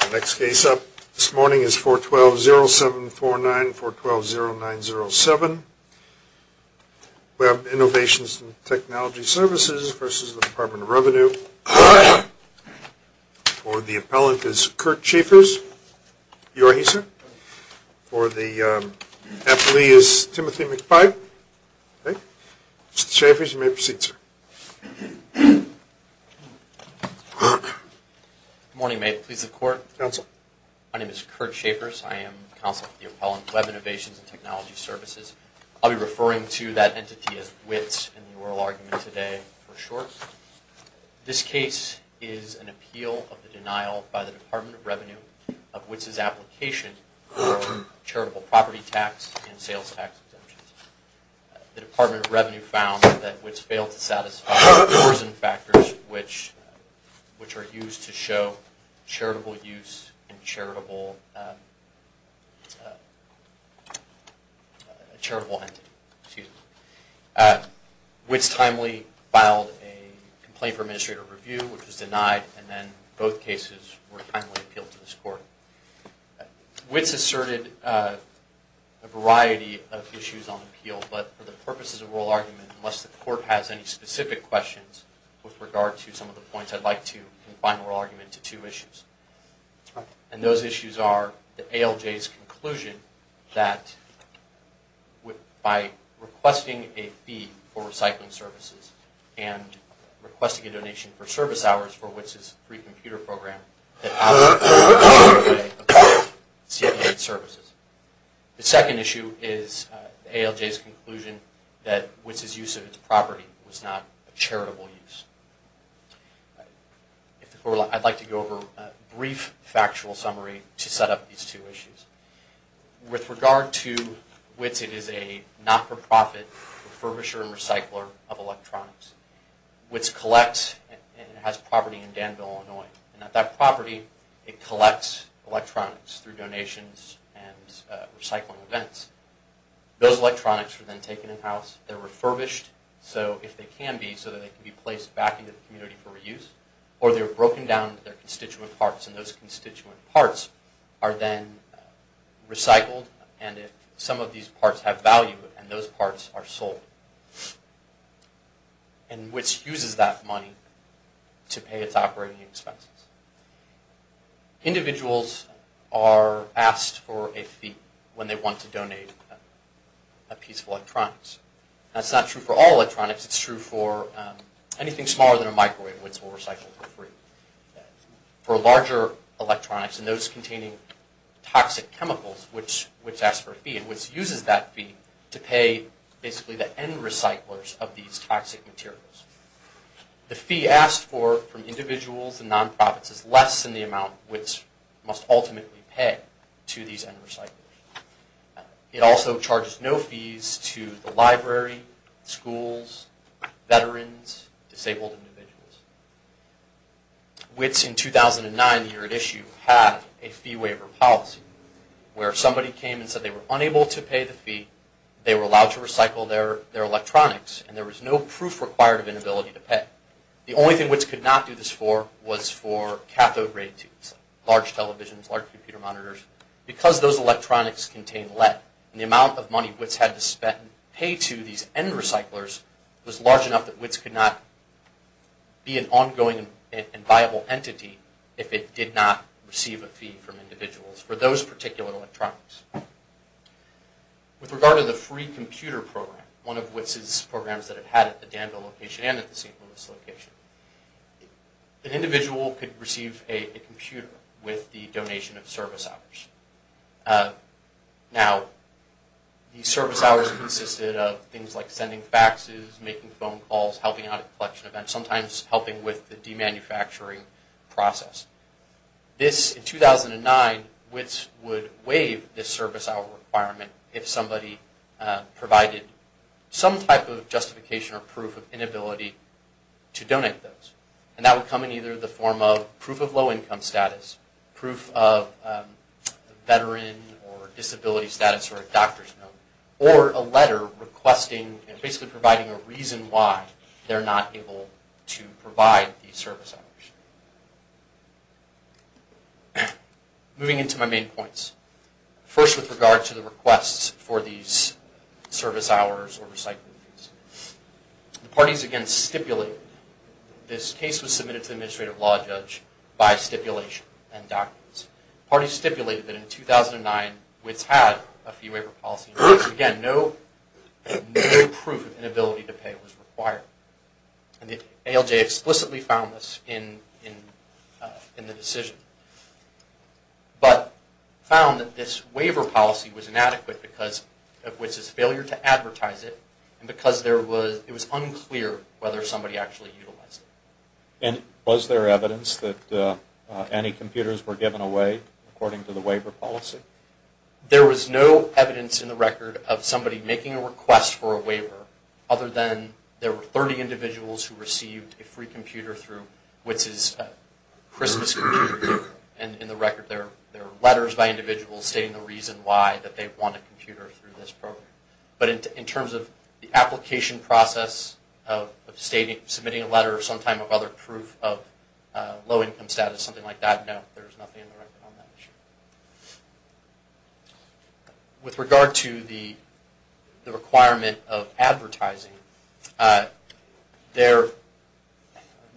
The next case up this morning is 412-0749, 412-0907. Web Innovations & Technology Services v. Department of Revenue. For the appellant is Kurt Schaffers. You are here, sir? For the appellee is Timothy McPike. Mr. Schaffers, you may proceed, sir. Good morning, mate. Pleased to report. My name is Kurt Schaffers. I am counsel for the appellant, Web Innovations & Technology Services. I'll be referring to that entity as WITS in the oral argument today for short. This case is an appeal of the denial by the Department of Revenue of WITS's application for charitable property tax and sales tax exemptions. The Department of Revenue found that WITS failed to satisfy the coercion factors which are used to show charitable use and charitable entity. WITS timely filed a complaint for administrative review, which was denied, and then both cases were timely appealed to this court. WITS asserted a variety of issues on appeal, but for the purposes of oral argument, unless the court has any specific questions with regard to some of the points, I'd like to confine oral argument to two issues. And those issues are the ALJ's conclusion that by requesting a fee for recycling services and requesting a donation for service hours for WITS's free computer program, the appellant failed to comply with COA services. The second issue is the ALJ's conclusion that WITS's use of its property was not a charitable use. I'd like to go over a brief factual summary to set up these two issues. With regard to WITS, it is a not-for-profit refurbisher and recycler of electronics. WITS collects and has property in Danville, Illinois. And at that property, it collects electronics through donations and recycling events. Those electronics are then taken in-house. They're refurbished, if they can be, so that they can be placed back into the community for reuse. Or they're broken down into their constituent parts, and those constituent parts are then recycled. And some of these parts have value, and those parts are sold. And WITS uses that money to pay its operating expenses. Individuals are asked for a fee when they want to donate a piece of electronics. That's not true for all electronics. It's true for anything smaller than a microwave, which we'll recycle for free. For larger electronics, and those containing toxic chemicals, WITS asks for a fee, and WITS uses that fee to pay basically the end recyclers of these toxic materials. The fee asked for from individuals and non-profits is less than the amount WITS must ultimately pay to these end recyclers. It also charges no fees to the library, schools, veterans, disabled individuals. WITS in 2009, the year it issued, had a fee waiver policy, where somebody came and said they were unable to pay the fee, they were allowed to recycle their electronics, and there was no proof required of inability to pay. The only thing WITS could not do this for was for cathode ray tubes, large televisions, large computer monitors. Because those electronics contain lead, and the amount of money WITS had to pay to these end recyclers was large enough that WITS could not be an ongoing and viable entity if it did not receive a fee from individuals for those particular electronics. With regard to the free computer program, one of WITS' programs that it had at the Danville location and at the St. Louis location, an individual could receive a computer with the donation of service hours. Now, these service hours consisted of things like sending faxes, making phone calls, helping out at collection events, sometimes helping with the demanufacturing process. In 2009, WITS would waive this service hour requirement if somebody provided some type of justification or proof of inability to donate those. And that would come in either the form of proof of low income status, proof of veteran or disability status or a doctor's note, or a letter requesting, basically providing a reason why they're not able to provide these service hours. Moving into my main points. First, with regard to the requests for these service hours or recycling fees. The parties, again, stipulated that this case was submitted to the administrative law judge by stipulation and documents. The parties stipulated that in 2009, WITS had a fee waiver policy. Again, no proof of inability to pay was required. ALJ explicitly found this in the decision, but found that this waiver policy was inadequate because of WITS' failure to advertise it and because it was unclear whether somebody actually utilized it. And was there evidence that any computers were given away according to the waiver policy? There was no evidence in the record of somebody making a request for a waiver other than there were 30 individuals who received a free computer through WITS' Christmas computer program. And in the record there are letters by individuals stating the reason why that they want a computer through this program. But in terms of the application process of submitting a letter or some type of other proof of low income status, something like that, no, there's nothing in the record on that issue. With regard to the requirement of advertising, they're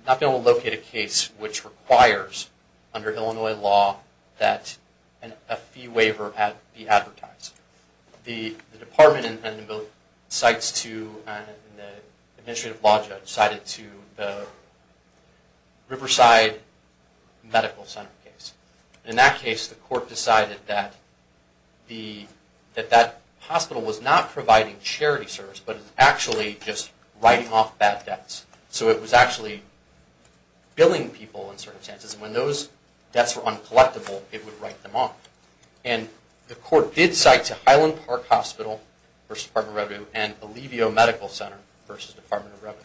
not going to locate a case which requires, under Illinois law, that a fee waiver be advertised. The department and the administrative law judge cited to the Riverside Medical Center case. In that case, the court decided that that hospital was not providing charity service, but was actually just writing off bad debts. So it was actually billing people in certain instances, and when those debts were uncollectable, it would write them off. And the court did cite to Highland Park Hospital v. Department of Revenue and Alivio Medical Center v. Department of Revenue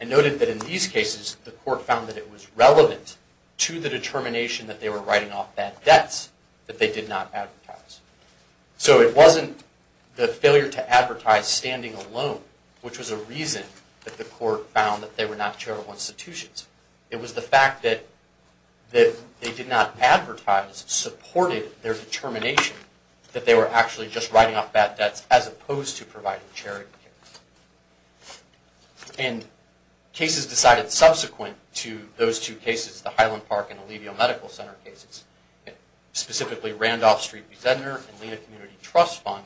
and noted that in these cases the court found that it was relevant to the determination that they were writing off bad debts that they did not advertise. So it wasn't the failure to advertise standing alone, which was a reason that the court found that they were not charitable institutions. It was the fact that they did not advertise supported their determination that they were actually just writing off bad debts as opposed to providing charity. And cases decided subsequent to those two cases, the Highland Park and Alivio Medical Center cases, specifically Randolph Street v. Zedner and Lena Community Trust Fund,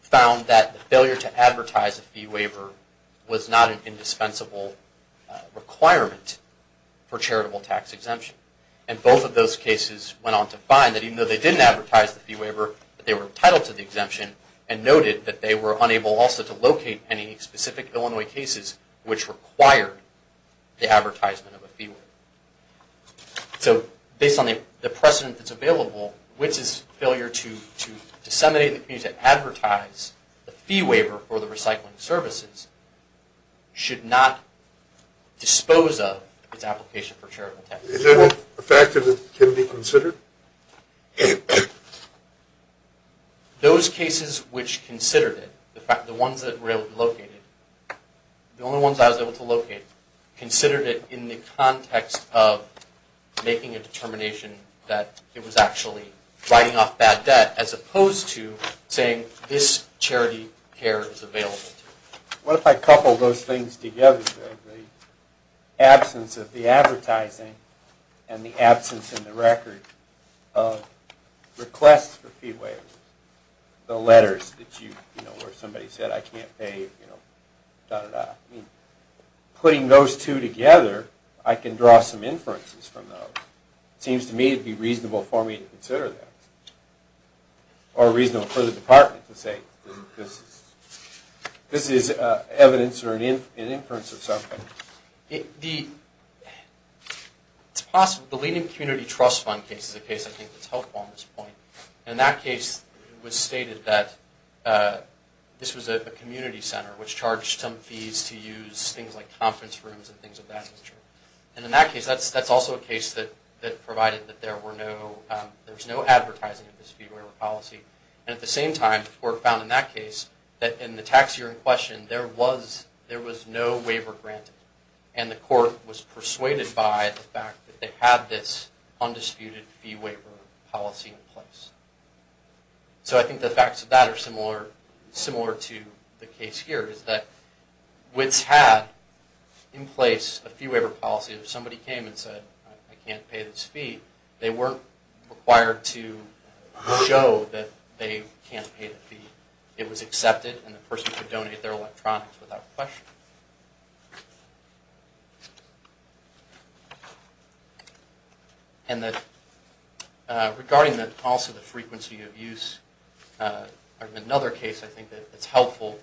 found that the failure to advertise a fee waiver was not an indispensable requirement for charitable tax exemption. And both of those cases went on to find that even though they didn't advertise the fee waiver, that they were entitled to the exemption and noted that they were unable also to locate any specific Illinois cases which required the advertisement of a fee waiver. So based on the precedent that's available, Wits' failure to disseminate and advertise a fee waiver for the recycling services should not dispose of its application for charitable tax exemption. Is that a fact that it can be considered? Those cases which considered it, the ones that were able to locate it, the only ones I was able to locate, considered it in the context of making a determination that it was actually writing off bad debt as opposed to saying this charity care is available. What if I couple those things together? The absence of the advertising and the absence in the record of requests for fee waivers, the letters where somebody said I can't pay, putting those two together, I can draw some inferences from those. It seems to me it would be reasonable for me to consider that. Or reasonable for the department to say this is evidence or an inference of something. It's possible. The Lenin Community Trust Fund case is a case I think that's helpful on this point. In that case, it was stated that this was a community center which charged some fees to use things like conference rooms and things of that nature. In that case, that's also a case that provided that there was no advertising of this fee waiver policy. At the same time, the court found in that case, in the tax year in question, there was no waiver granted. And the court was persuaded by the fact that they had this undisputed fee waiver policy in place. So I think the facts of that are similar to the case here. It's that WITS had in place a fee waiver policy. If somebody came and said I can't pay this fee, they weren't required to show that they can't pay the fee. It was accepted and the person could donate their electronics without question. And regarding also the frequency of use, another case I think that's helpful,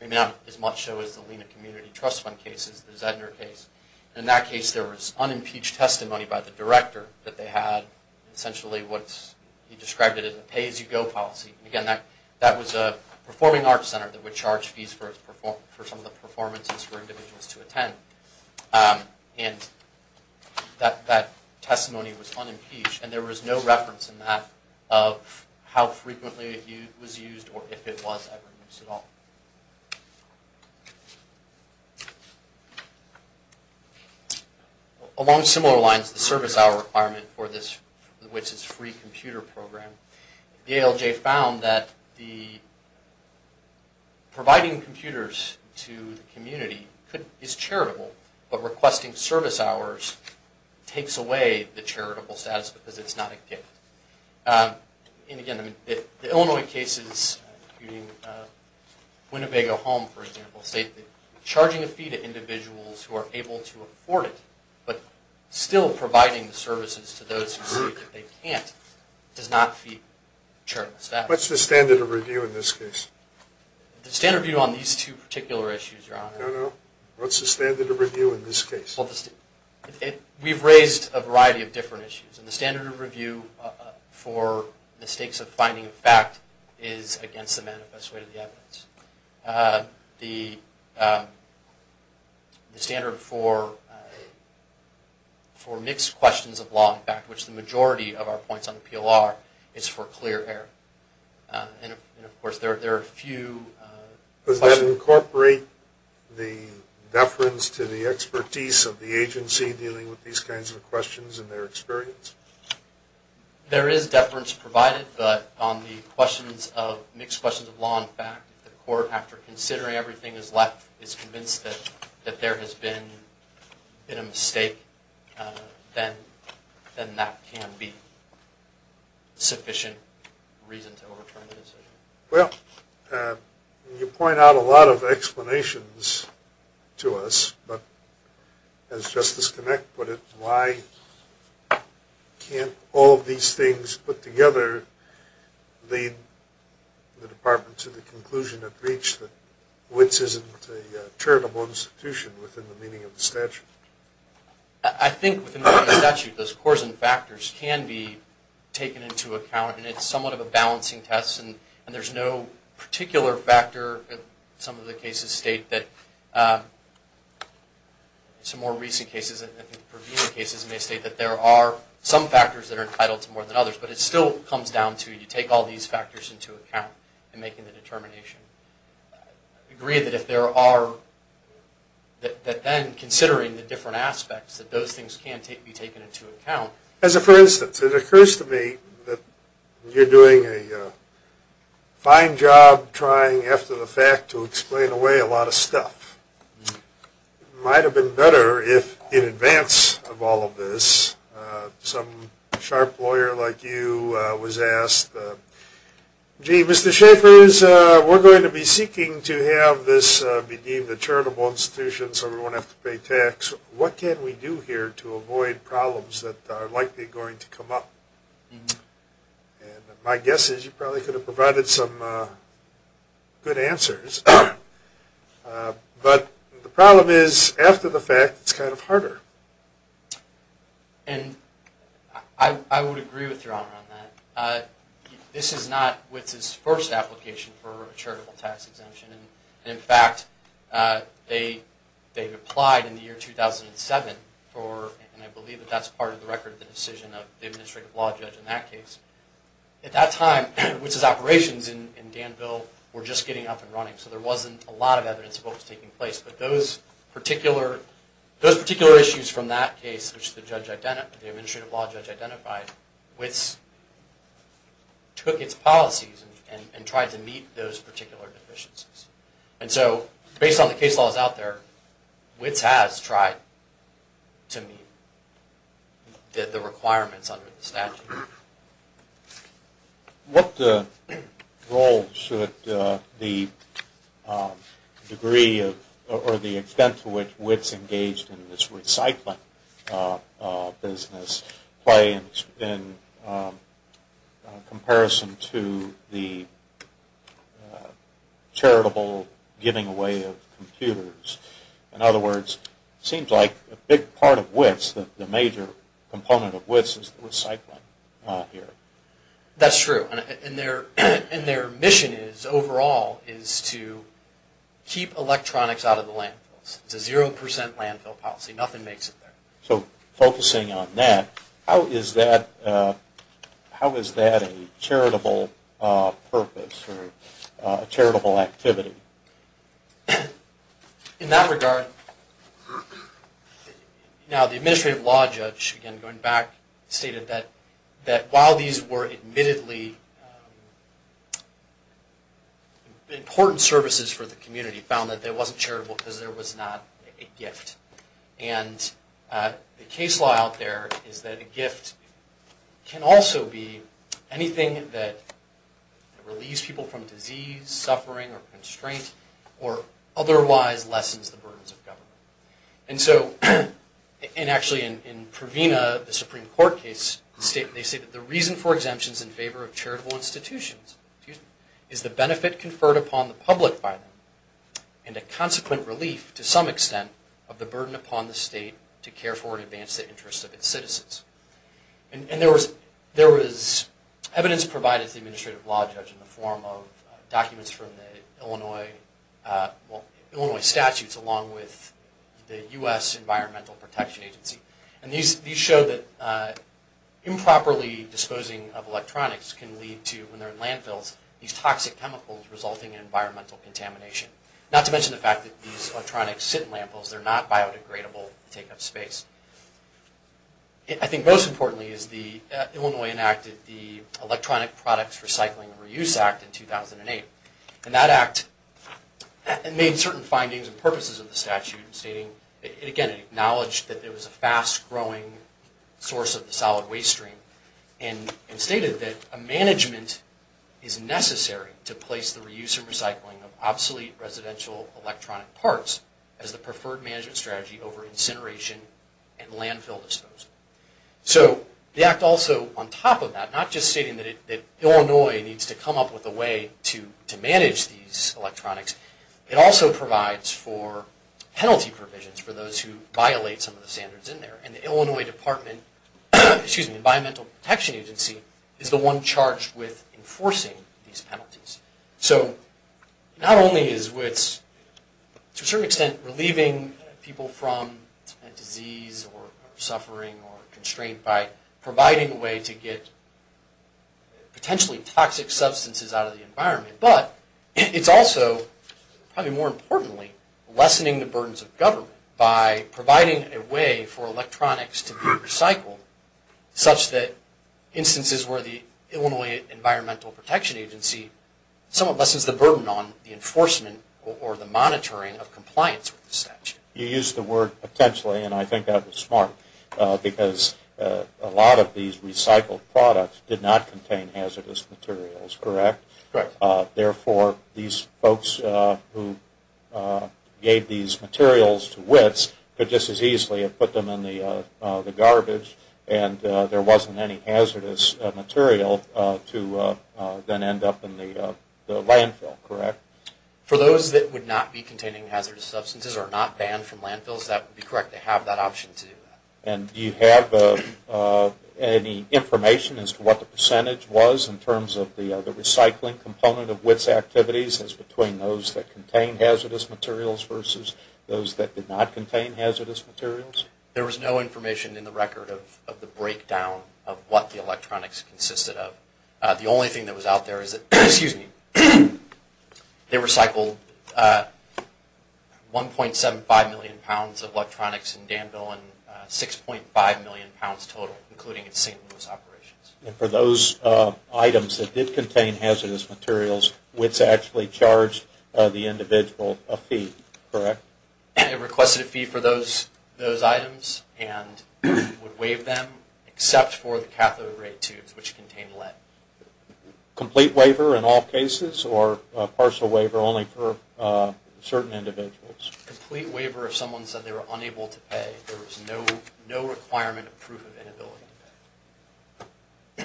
maybe not as much so as the Lenin Community Trust Fund case, is the Zedner case. In that case, there was unimpeached testimony by the director that they had essentially what he described as a pay as you go policy. Again, that was a performing arts center that would charge fees for some of the performances for individuals to attend. And that testimony was unimpeached. And there was no reference in that of how frequently it was used or if it was ever used at all. Along similar lines, the service hour requirement for this WITS's free computer program, the ALJ found that providing computers to the community is charitable, but requesting service hours takes away the charitable status because it's not a gift. And again, the Illinois cases, including Winnebago Home for example, state that charging a fee to individuals who are able to afford it, but still providing services to those who say that they can't does not feed charitable status. What's the standard of review in this case? The standard of review on these two particular issues, Your Honor. No, no. What's the standard of review in this case? We've raised a variety of different issues. And the standard of review for the stakes of finding a fact is against the manifest way of the evidence. The standard for mixed questions of law and fact, which the majority of our points on the PLR, is for clear error. And of course there are a few questions... Does that incorporate the deference to the expertise of the agency dealing with these kinds of questions and their experience? There is deference provided, but on the mixed questions of law and fact, if the court, after considering everything that's left, is convinced that there has been a mistake, then that can be sufficient reason to overturn the decision. Well, you point out a lot of explanations to us, but as Justice Connick put it, why can't all of these things put together lead the Department to the conclusion of breach that WITS isn't a charitable institution within the meaning of the statute? I think within the meaning of the statute, those cores and factors can be taken into account, and it's somewhat of a balancing test, and there's no particular factor. Some of the cases state that there are some factors that are entitled to more than others, but it still comes down to you take all these factors into account in making the determination. I agree that if there are... that then, considering the different aspects, that those things can be taken into account. As a first instance, it occurs to me that you're doing a fine job trying, after the fact, to explain away a lot of stuff. It might have been better if, in advance of all of this, some sharp lawyer like you was asked, gee, Mr. Schaffer, we're going to be seeking to have this be deemed a charitable institution so we won't have to pay tax. What can we do here to avoid problems that are likely going to come up? My guess is you probably could have provided some good answers, but the problem is, after the fact, it's kind of harder. I would agree with your honor on that. This is not WITS's first application for a charitable tax exemption. In fact, they've applied in the year 2007 for, and I believe that that's part of the record of the decision of the administrative law judge in that case. At that time, WITS's operations in Danville were just getting up and running, so there wasn't a lot of evidence of what was taking place, but those particular issues from that case, which the administrative law judge identified, WITS took its policies and tried to meet those particular deficiencies. And so, based on the case laws out there, WITS has tried to meet the requirements under the statute. What role should the degree or the extent to which WITS engaged in this recycling business play in comparison to the charitable giving away of computers? In other words, it seems like a big part of WITS, the major component of WITS, is the recycling here. That's true, and their mission overall is to keep electronics out of the landfills. It's a zero percent landfill policy. Nothing makes it there. So, focusing on that, how is that a charitable purpose or a charitable activity? In that regard, the administrative law judge, again going back, stated that while these were admittedly important services for the community, he found that it wasn't charitable because there was not a gift. The case law out there is that a gift can also be anything that relieves people from disease, suffering, or constraint, or otherwise lessens the burdens of government. Actually, in Pravina, the Supreme Court case, they state that the reason for exemptions in favor of charitable institutions is the benefit conferred upon the public by them and a consequent relief to some extent of the burden upon the state to care for and advance the interests of its citizens. And there was evidence provided to the administrative law judge in the form of documents from the Illinois statutes along with the U.S. Environmental Protection Agency. And these show that improperly disposing of electronics can lead to, when they're in landfills, these toxic chemicals resulting in environmental contamination. Not to mention the fact that these electronics sit in landfills. They're not biodegradable to take up space. I think most importantly is the Illinois enacted the Electronic Products Recycling and Reuse Act in 2008. And that act made certain findings and purposes of the statute, stating, again, it acknowledged that it was a fast-growing source of the solid waste stream and stated that a management is necessary to place the reuse and recycling of obsolete residential electronic parts as the preferred management strategy over incineration and landfill disposal. So the act also, on top of that, not just stating that Illinois needs to come up with a way to manage these electronics, it also provides for penalty provisions for those who violate some of the standards in there. And the Illinois Department, excuse me, Environmental Protection Agency, is the one charged with enforcing these penalties. So not only is what's, to a certain extent, relieving people from disease or suffering or constraint by providing a way to get potentially toxic substances out of the environment, but it's also, probably more importantly, lessening the burdens of government by providing a way for electronics to be recycled, such that instances where the Illinois Environmental Protection Agency somewhat lessens the burden on the enforcement or the monitoring of compliance with the statute. You used the word potentially, and I think that was smart, because a lot of these recycled products did not contain hazardous materials, correct? Correct. Therefore, these folks who gave these materials to WITS could just as easily have put them in the garbage and there wasn't any hazardous material to then end up in the landfill, correct? For those that would not be containing hazardous substances or not banned from landfills, that would be correct to have that option to do that. And do you have any information as to what the percentage was in terms of the recycling component of WITS activities as between those that contain hazardous materials versus those that did not contain hazardous materials? There was no information in the record of the breakdown of what the electronics consisted of. The only thing that was out there is that they recycled 1.75 million pounds of electronics in Danville and 6.5 million pounds total, including in St. Louis operations. And for those items that did contain hazardous materials, WITS actually charged the individual a fee, correct? It requested a fee for those items and would waive them, except for the cathode ray tubes, which contained lead. Complete waiver in all cases or partial waiver only for certain individuals? Complete waiver if someone said they were unable to pay. There was no requirement of proof of inability to pay.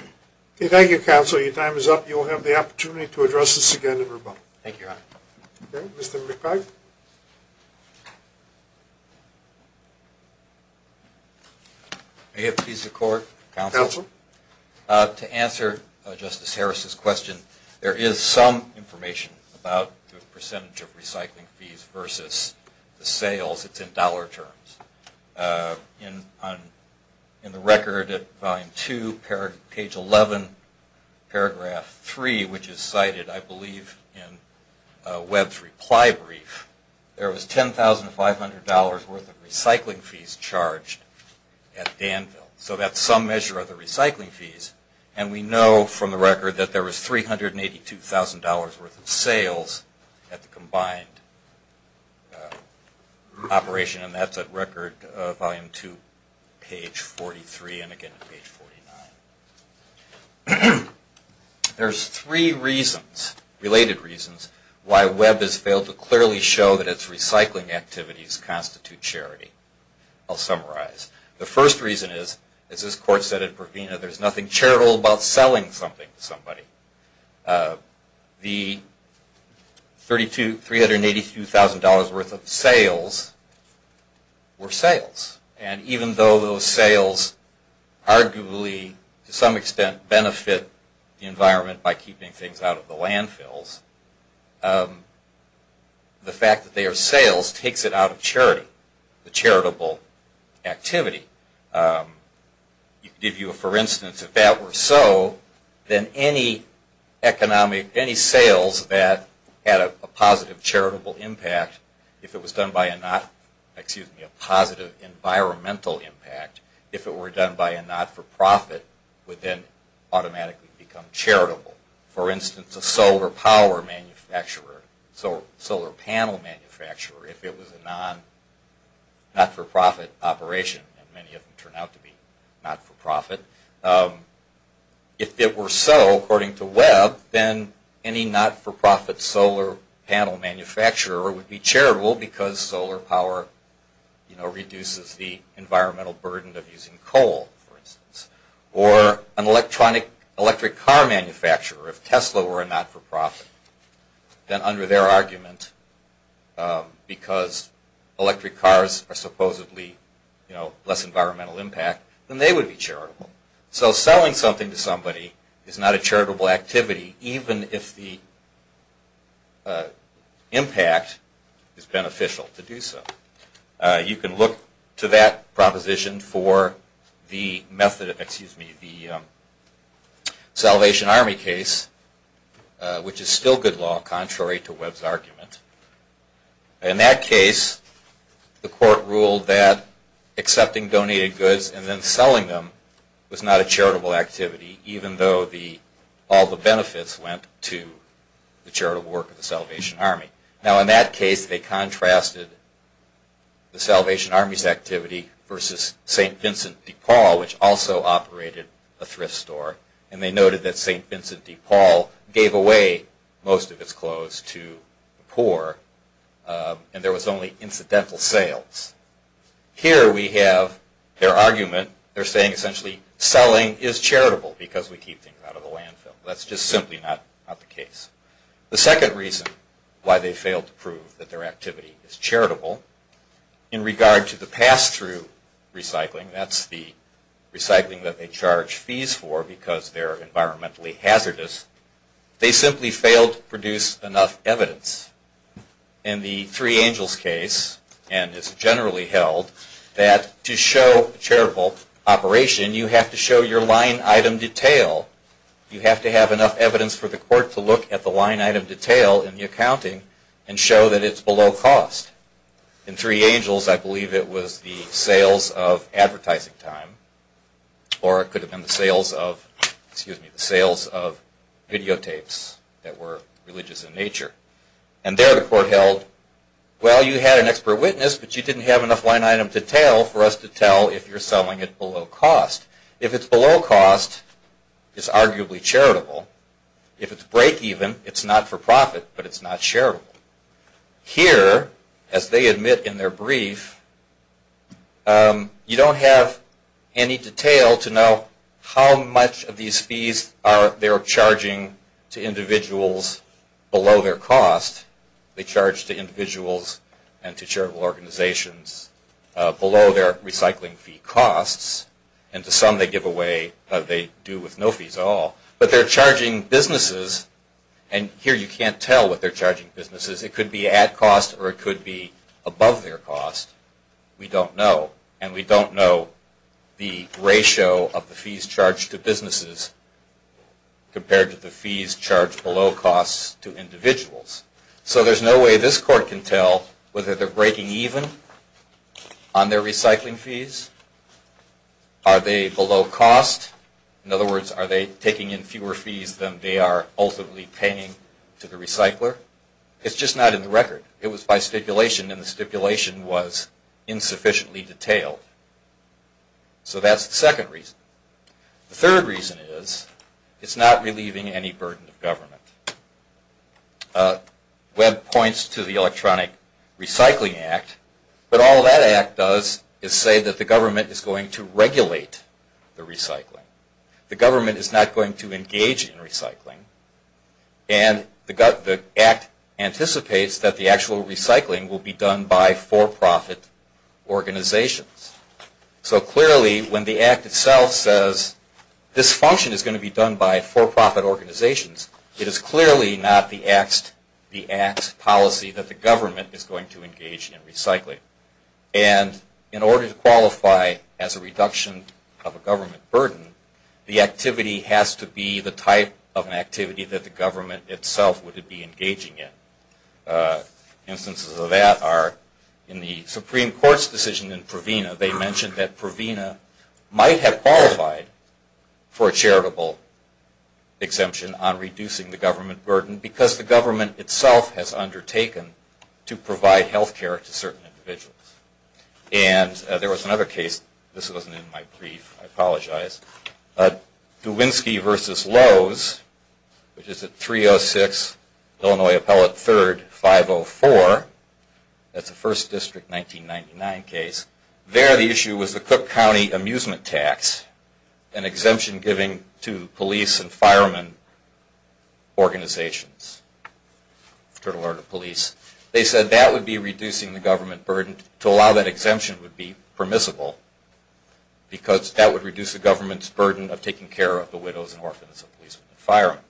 Okay, thank you, counsel. Your time is up. You will have the opportunity to address this again in rebuttal. Thank you, Your Honor. Okay, Mr. McPage? May it please the Court? Counsel? To answer Justice Harris's question, there is some information about the percentage of recycling fees versus the sales. It's in dollar terms. In the record at Volume 2, Page 11, Paragraph 3, which is cited I believe in Webb's reply brief, there was $10,500 worth of recycling fees charged at Danville. So that's some measure of the recycling fees. And we know from the record that there was $382,000 worth of sales at the combined operation, and that's at Record Volume 2, Page 43 and again at Page 49. There's three reasons, related reasons, why Webb has failed to clearly show that its recycling activities constitute charity. I'll summarize. The first reason is, as this Court said at Provena, there's nothing charitable about selling something to somebody. The $382,000 worth of sales were sales. And even though those sales arguably, to some extent, benefit the environment by keeping things out of the landfills, the fact that they are sales takes it out of charity, the charitable activity. To give you a for instance, if that were so, then any economic, any sales that had a positive charitable impact, if it was done by a not, excuse me, a positive environmental impact, if it were done by a not-for-profit, would then automatically become charitable. For instance, a solar power manufacturer, solar panel manufacturer, if it was a not-for-profit operation, and many of them turn out to be not-for-profit. If it were so, according to Webb, then any not-for-profit solar panel manufacturer would be charitable because solar power reduces the environmental burden of using coal, for instance. Or an electric car manufacturer. If Tesla were a not-for-profit, then under their argument, because electric cars are supposedly less environmental impact, then they would be charitable. So selling something to somebody is not a charitable activity, even if the impact is beneficial to do so. You can look to that proposition for the Salvation Army case, which is still good law, contrary to Webb's argument. In that case, the court ruled that accepting donated goods and then selling them was not a charitable activity, even though all the benefits went to the charitable work of the Salvation Army. Now in that case, they contrasted the Salvation Army's activity versus St. Vincent de Paul, which also operated a thrift store, and they noted that St. Vincent de Paul gave away most of its clothes to the poor, and there was only incidental sales. Here we have their argument. They're saying essentially selling is charitable because we keep things out of the landfill. That's just simply not the case. The second reason why they failed to prove that their activity is charitable, in regard to the pass-through recycling, that's the recycling that they charge fees for because they're environmentally hazardous, they simply failed to produce enough evidence. In the Three Angels case, and it's generally held, that to show a charitable operation, you have to show your line item detail. You have to have enough evidence for the court to look at the line item detail in the accounting and show that it's below cost. In Three Angels, I believe it was the sales of advertising time, or it could have been the sales of videotapes that were religious in nature. And there the court held, well, you had an expert witness, but you didn't have enough line item detail for us to tell if you're selling it below cost. If it's below cost, it's arguably charitable. If it's break-even, it's not for profit, but it's not charitable. Here, as they admit in their brief, you don't have any detail to know how much of these fees they're charging to individuals below their cost. They charge to individuals and to charitable organizations below their recycling fee costs. And to some they do with no fees at all. But they're charging businesses, and here you can't tell what they're charging businesses. It could be at cost or it could be above their cost. We don't know. And we don't know the ratio of the fees charged to businesses compared to the fees charged below cost to individuals. So there's no way this court can tell whether they're breaking even on their recycling fees. Are they below cost? In other words, are they taking in fewer fees than they are ultimately paying to the recycler? It's just not in the record. It was by stipulation, and the stipulation was insufficiently detailed. So that's the second reason. The third reason is it's not relieving any burden of government. Webb points to the Electronic Recycling Act, but all that act does is say that the government is going to regulate the recycling. The government is not going to engage in recycling, and the act anticipates that the actual recycling will be done by for-profit organizations. So clearly when the act itself says this function is going to be done by for-profit organizations, it is clearly not the act's policy that the government is going to engage in recycling. And in order to qualify as a reduction of a government burden, the activity has to be the type of activity that the government itself would be engaging in. Instances of that are in the Supreme Court's decision in Provena, they mentioned that Provena might have qualified for a charitable exemption on reducing the government burden because the government itself has undertaken to provide health care to certain individuals. And there was another case. This wasn't in my brief. I apologize. Duwinski v. Lowe's, which is at 306 Illinois Appellate 3rd, 504. That's a 1st District 1999 case. There the issue was the Cook County Amusement Tax, an exemption given to police and firemen organizations. They said that would be reducing the government burden. To allow that exemption would be permissible because that would reduce the government's burden of taking care of the widows and orphans of police and firemen.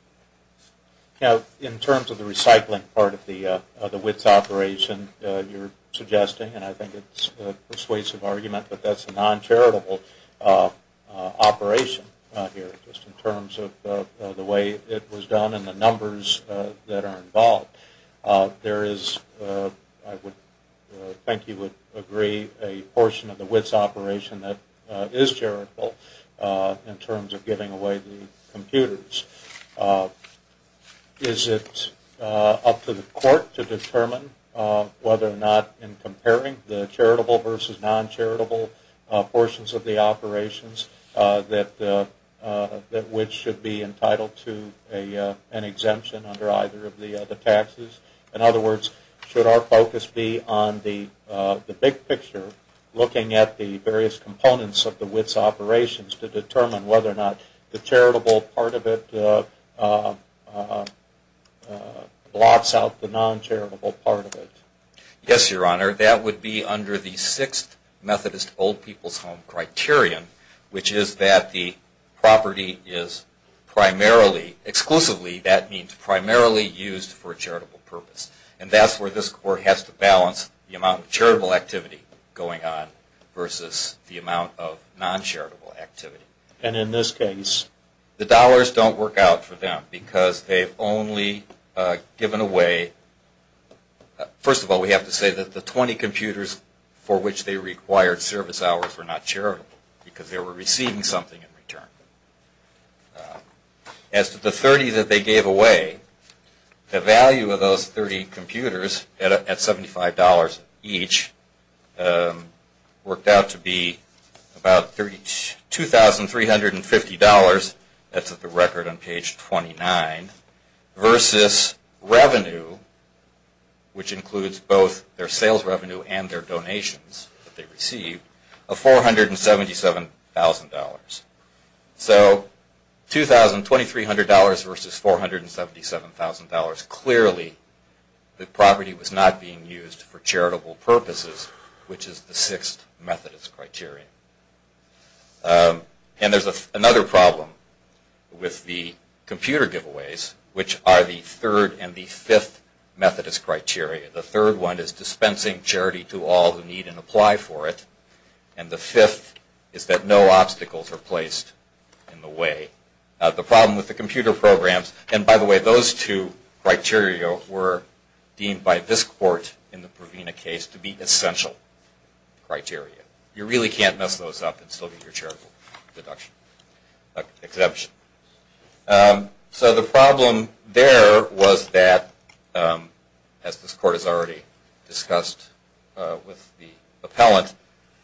Now, in terms of the recycling part of the WITS operation you're suggesting, and I think it's a persuasive argument, but that's a non-charitable operation here just in terms of the way it was done and the numbers that are involved. There is, I would think you would agree, a portion of the WITS operation that is charitable in terms of giving away the computers. Is it up to the court to determine whether or not, in comparing the charitable versus non-charitable portions of the operations, that WITS should be entitled to an exemption under either of the taxes? In other words, should our focus be on the big picture, looking at the various components of the WITS operations to determine whether or not the charitable part of it blocks out the non-charitable part of it? Yes, Your Honor. Under the Sixth Methodist Old People's Home Criterion, which is that the property is primarily, exclusively, that means primarily used for a charitable purpose. And that's where this Court has to balance the amount of charitable activity going on versus the amount of non-charitable activity. And in this case? The dollars don't work out for them because they've only given away, first of all we have to say that the 20 computers for which they required service hours were not charitable because they were receiving something in return. As to the 30 that they gave away, the value of those 30 computers at $75 each worked out to be about $2,350, that's at the record on page 29, versus revenue, which includes both their sales revenue and their donations that they received, of $477,000. So $2,300 versus $477,000, clearly the property was not being used for charitable purposes, which is the Sixth Methodist Criterion. And there's another problem with the computer giveaways, which are the Third and the Fifth Methodist Criteria. The third one is dispensing charity to all who need and apply for it, and the fifth is that no obstacles are placed in the way. The problem with the computer programs, and by the way those two criteria were deemed by this Court in the Provena case to be essential criteria. You really can't mess those up and still get your charitable exemption. So the problem there was that, as this Court has already discussed with the appellant,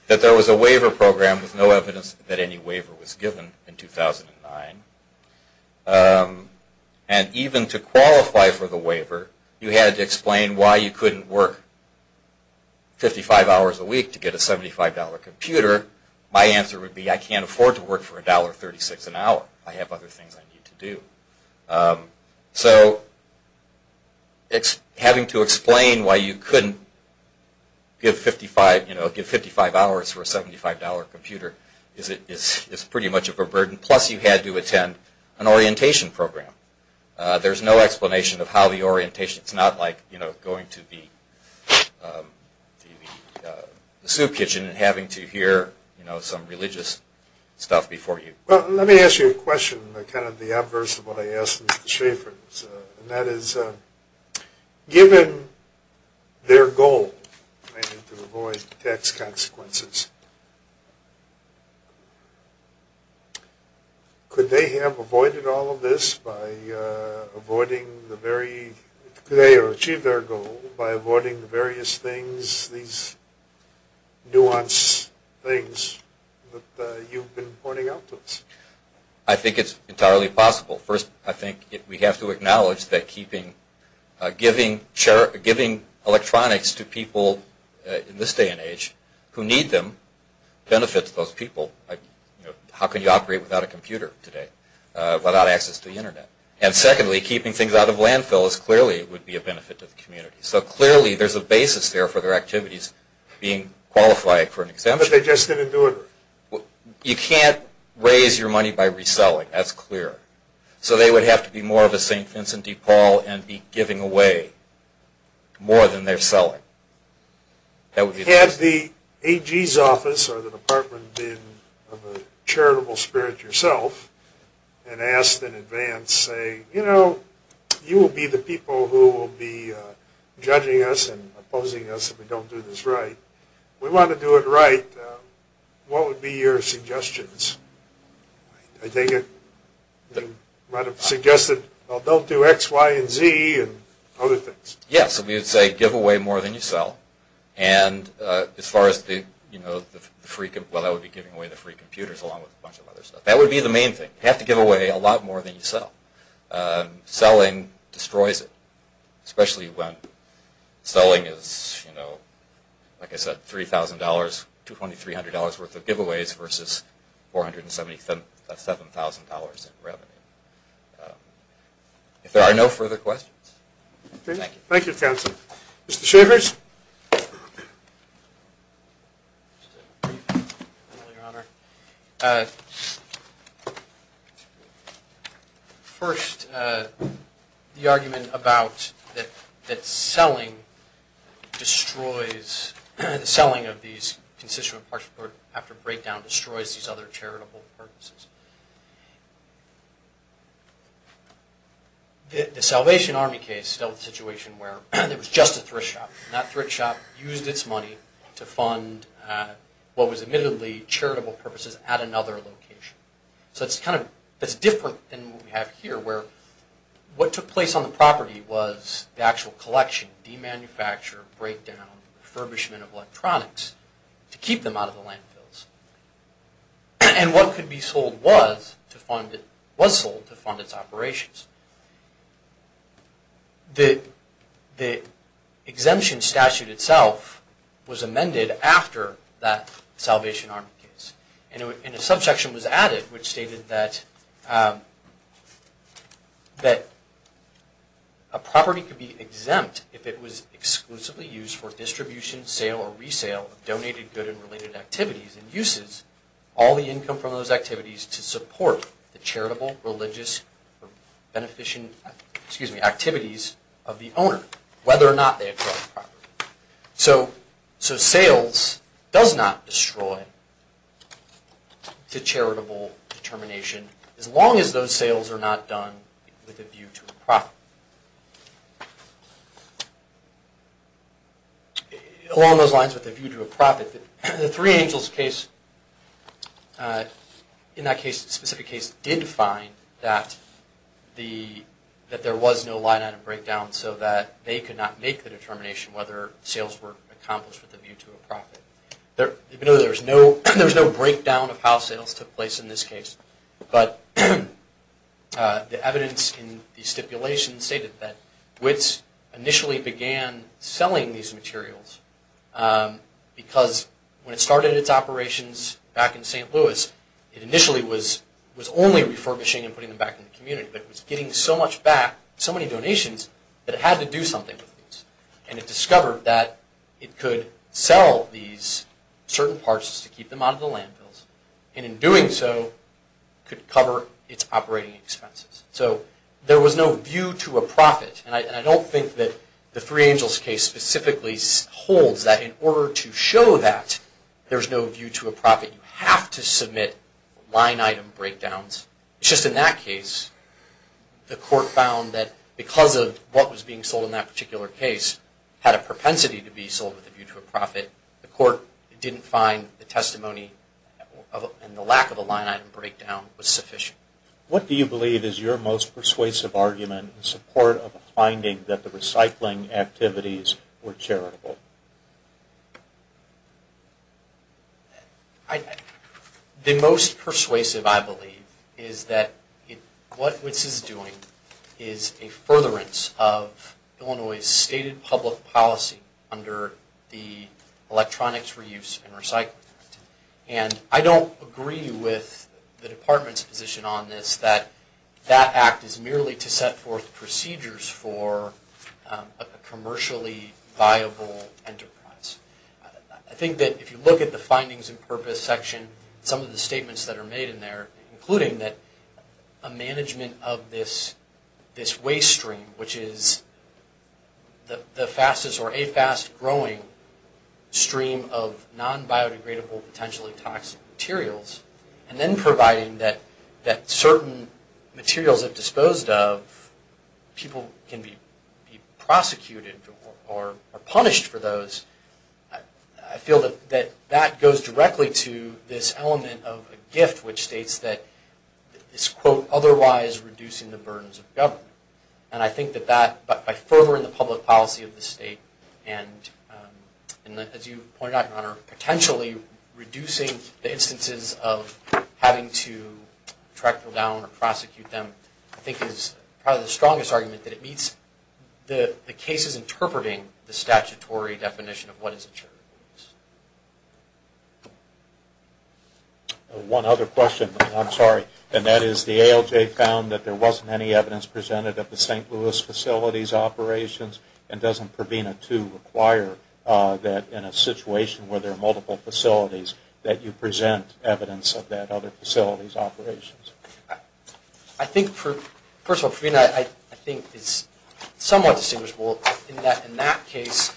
that there was a waiver program with no evidence that any waiver was given in 2009. And even to qualify for the waiver, you had to explain why you couldn't work 55 hours a week to get a $75 computer. My answer would be I can't afford to work for $1.36 an hour. I have other things I need to do. So having to explain why you couldn't give 55 hours for a $75 computer is pretty much a burden, plus you had to attend an orientation program. There's no explanation of how the orientation, it's not like going to the soup kitchen and having to hear some religious stuff before you. Well, let me ask you a question, kind of the adverse of what I asked Mr. Schaffer, and that is given their goal to avoid tax consequences, could they have avoided all of this by avoiding the very, could they have achieved their goal by avoiding the various things, these nuance things that you've been pointing out to us? I think it's entirely possible. First, I think we have to acknowledge that giving electronics to people in this day and age who need them benefits those people. How can you operate without a computer today, without access to the Internet? And secondly, keeping things out of landfills, clearly it would be a benefit to the community. So clearly there's a basis there for their activities being qualified for an exemption. But they just didn't do it. You can't raise your money by reselling, that's clear. So they would have to be more of a St. Vincent de Paul and be giving away more than they're selling. Had the AG's office or the department been of a charitable spirit yourself and asked in advance, say, you know, you will be the people who will be judging us and opposing us if we don't do this right. If we want to do it right, what would be your suggestions? I think it might have suggested, well, don't do X, Y, and Z and other things. Yes, we would say give away more than you sell. And as far as the free, well, that would be giving away the free computers along with a bunch of other stuff. That would be the main thing. You have to give away a lot more than you sell. Selling destroys it, especially when selling is, you know, like I said, $3,000, $2,300 worth of giveaways versus $477,000 in revenue. If there are no further questions. Thank you, counsel. Mr. Schavers. First, the argument about that selling destroys the selling of these for charitable purposes. The Salvation Army case dealt with a situation where there was just a thrift shop, and that thrift shop used its money to fund what was admittedly charitable purposes at another location. So it's kind of different than what we have here where what took place on the property was the actual collection, demanufacture, breakdown, refurbishment of electronics to keep them out of the landfills. And what could be sold was sold to fund its operations. The exemption statute itself was amended after that Salvation Army case, and a subsection was added which stated that a property could be exempt if it was exclusively used for distribution, sale, or resale of donated good and related activities and uses all the income from those activities to support the charitable, religious, or beneficent activities of the owner, whether or not they acquired the property. So sales does not destroy the charitable determination as long as those sales are not done with a view to a profit. Along those lines with a view to a profit, the Three Angels case, in that specific case, did find that there was no line item breakdown so that they could not make the determination whether sales were accomplished with a view to a profit. Even though there was no breakdown of how sales took place in this case, but the evidence in the stipulation stated that WITS initially began selling these materials because when it started its operations back in St. Louis, it initially was only refurbishing and putting them back in the community, but it was getting so much back, so many donations, that it had to do something with these. And it discovered that it could sell these certain parts to keep them out of the landfills, and in doing so, could cover its operating expenses. So there was no view to a profit, and I don't think that the Three Angels case specifically holds that in order to show that there's no view to a profit, you have to submit line item breakdowns. It's just in that case, the court found that because of what was being sold in that particular case had a propensity to be sold with a view to a profit. The court didn't find the testimony and the lack of a line item breakdown was sufficient. What do you believe is your most persuasive argument in support of the finding that the recycling activities were charitable? The most persuasive, I believe, is that what WITS is doing is a furtherance of Illinois' stated public policy under the Electronics, Reuse, and Recycling Act. And I don't agree with the Department's position on this, that that act is merely to set forth procedures for a commercially viable enterprise. I think that if you look at the findings and purpose section, some of the statements that are made in there, including a management of this waste stream, which is the fastest or a fast-growing stream of non-biodegradable, potentially toxic materials, and then providing that certain materials, if disposed of, people can be prosecuted or punished for those, I feel that that goes directly to this element of a gift, which states that this quote, otherwise reducing the burdens of government. And I think that by furthering the public policy of the state and, as you pointed out, Your Honor, potentially reducing the instances of having to track people down or prosecute them, I think is probably the strongest argument that it meets the cases interpreting the statutory definition of what is a charitable use. One other question, I'm sorry, and that is the ALJ found that there wasn't any evidence presented of the St. Louis facilities operations, and doesn't Provena II require that in a situation where there are multiple facilities that you present evidence of that other facility's operations? I think, first of all, Provena, I think, is somewhat distinguishable in that in that case,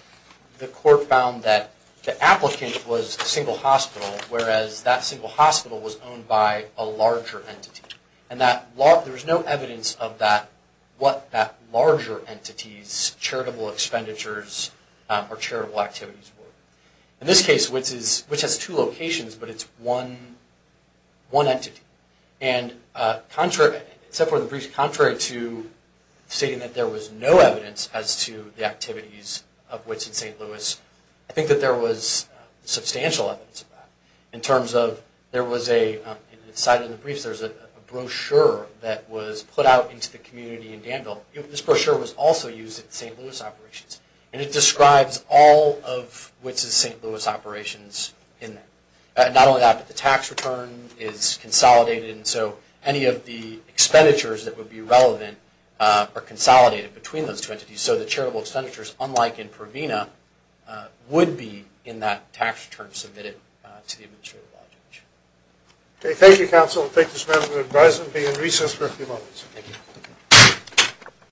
the court found that the applicant was a single hospital, whereas that single hospital was owned by a larger entity. And there was no evidence of what that larger entity's charitable expenditures or charitable activities were. In this case, which has two locations, but it's one entity. And, except for the brief, contrary to stating that there was no evidence as to the activities of Wits in St. Louis, I think that there was substantial evidence of that. In terms of, there was a, in the side of the briefs, there was a brochure that was put out into the community in Danville. This brochure was also used at the St. Louis operations, and it describes all of Wits' St. Louis operations in that. Not only that, but the tax return is consolidated, and so any of the expenditures that would be relevant are consolidated between those two entities, so the charitable expenditures, unlike in Provena, would be in that tax return submitted to the administrator of that location. Okay, thank you, counsel. I'll take this matter into advisement and be in recess for a few moments. Thank you.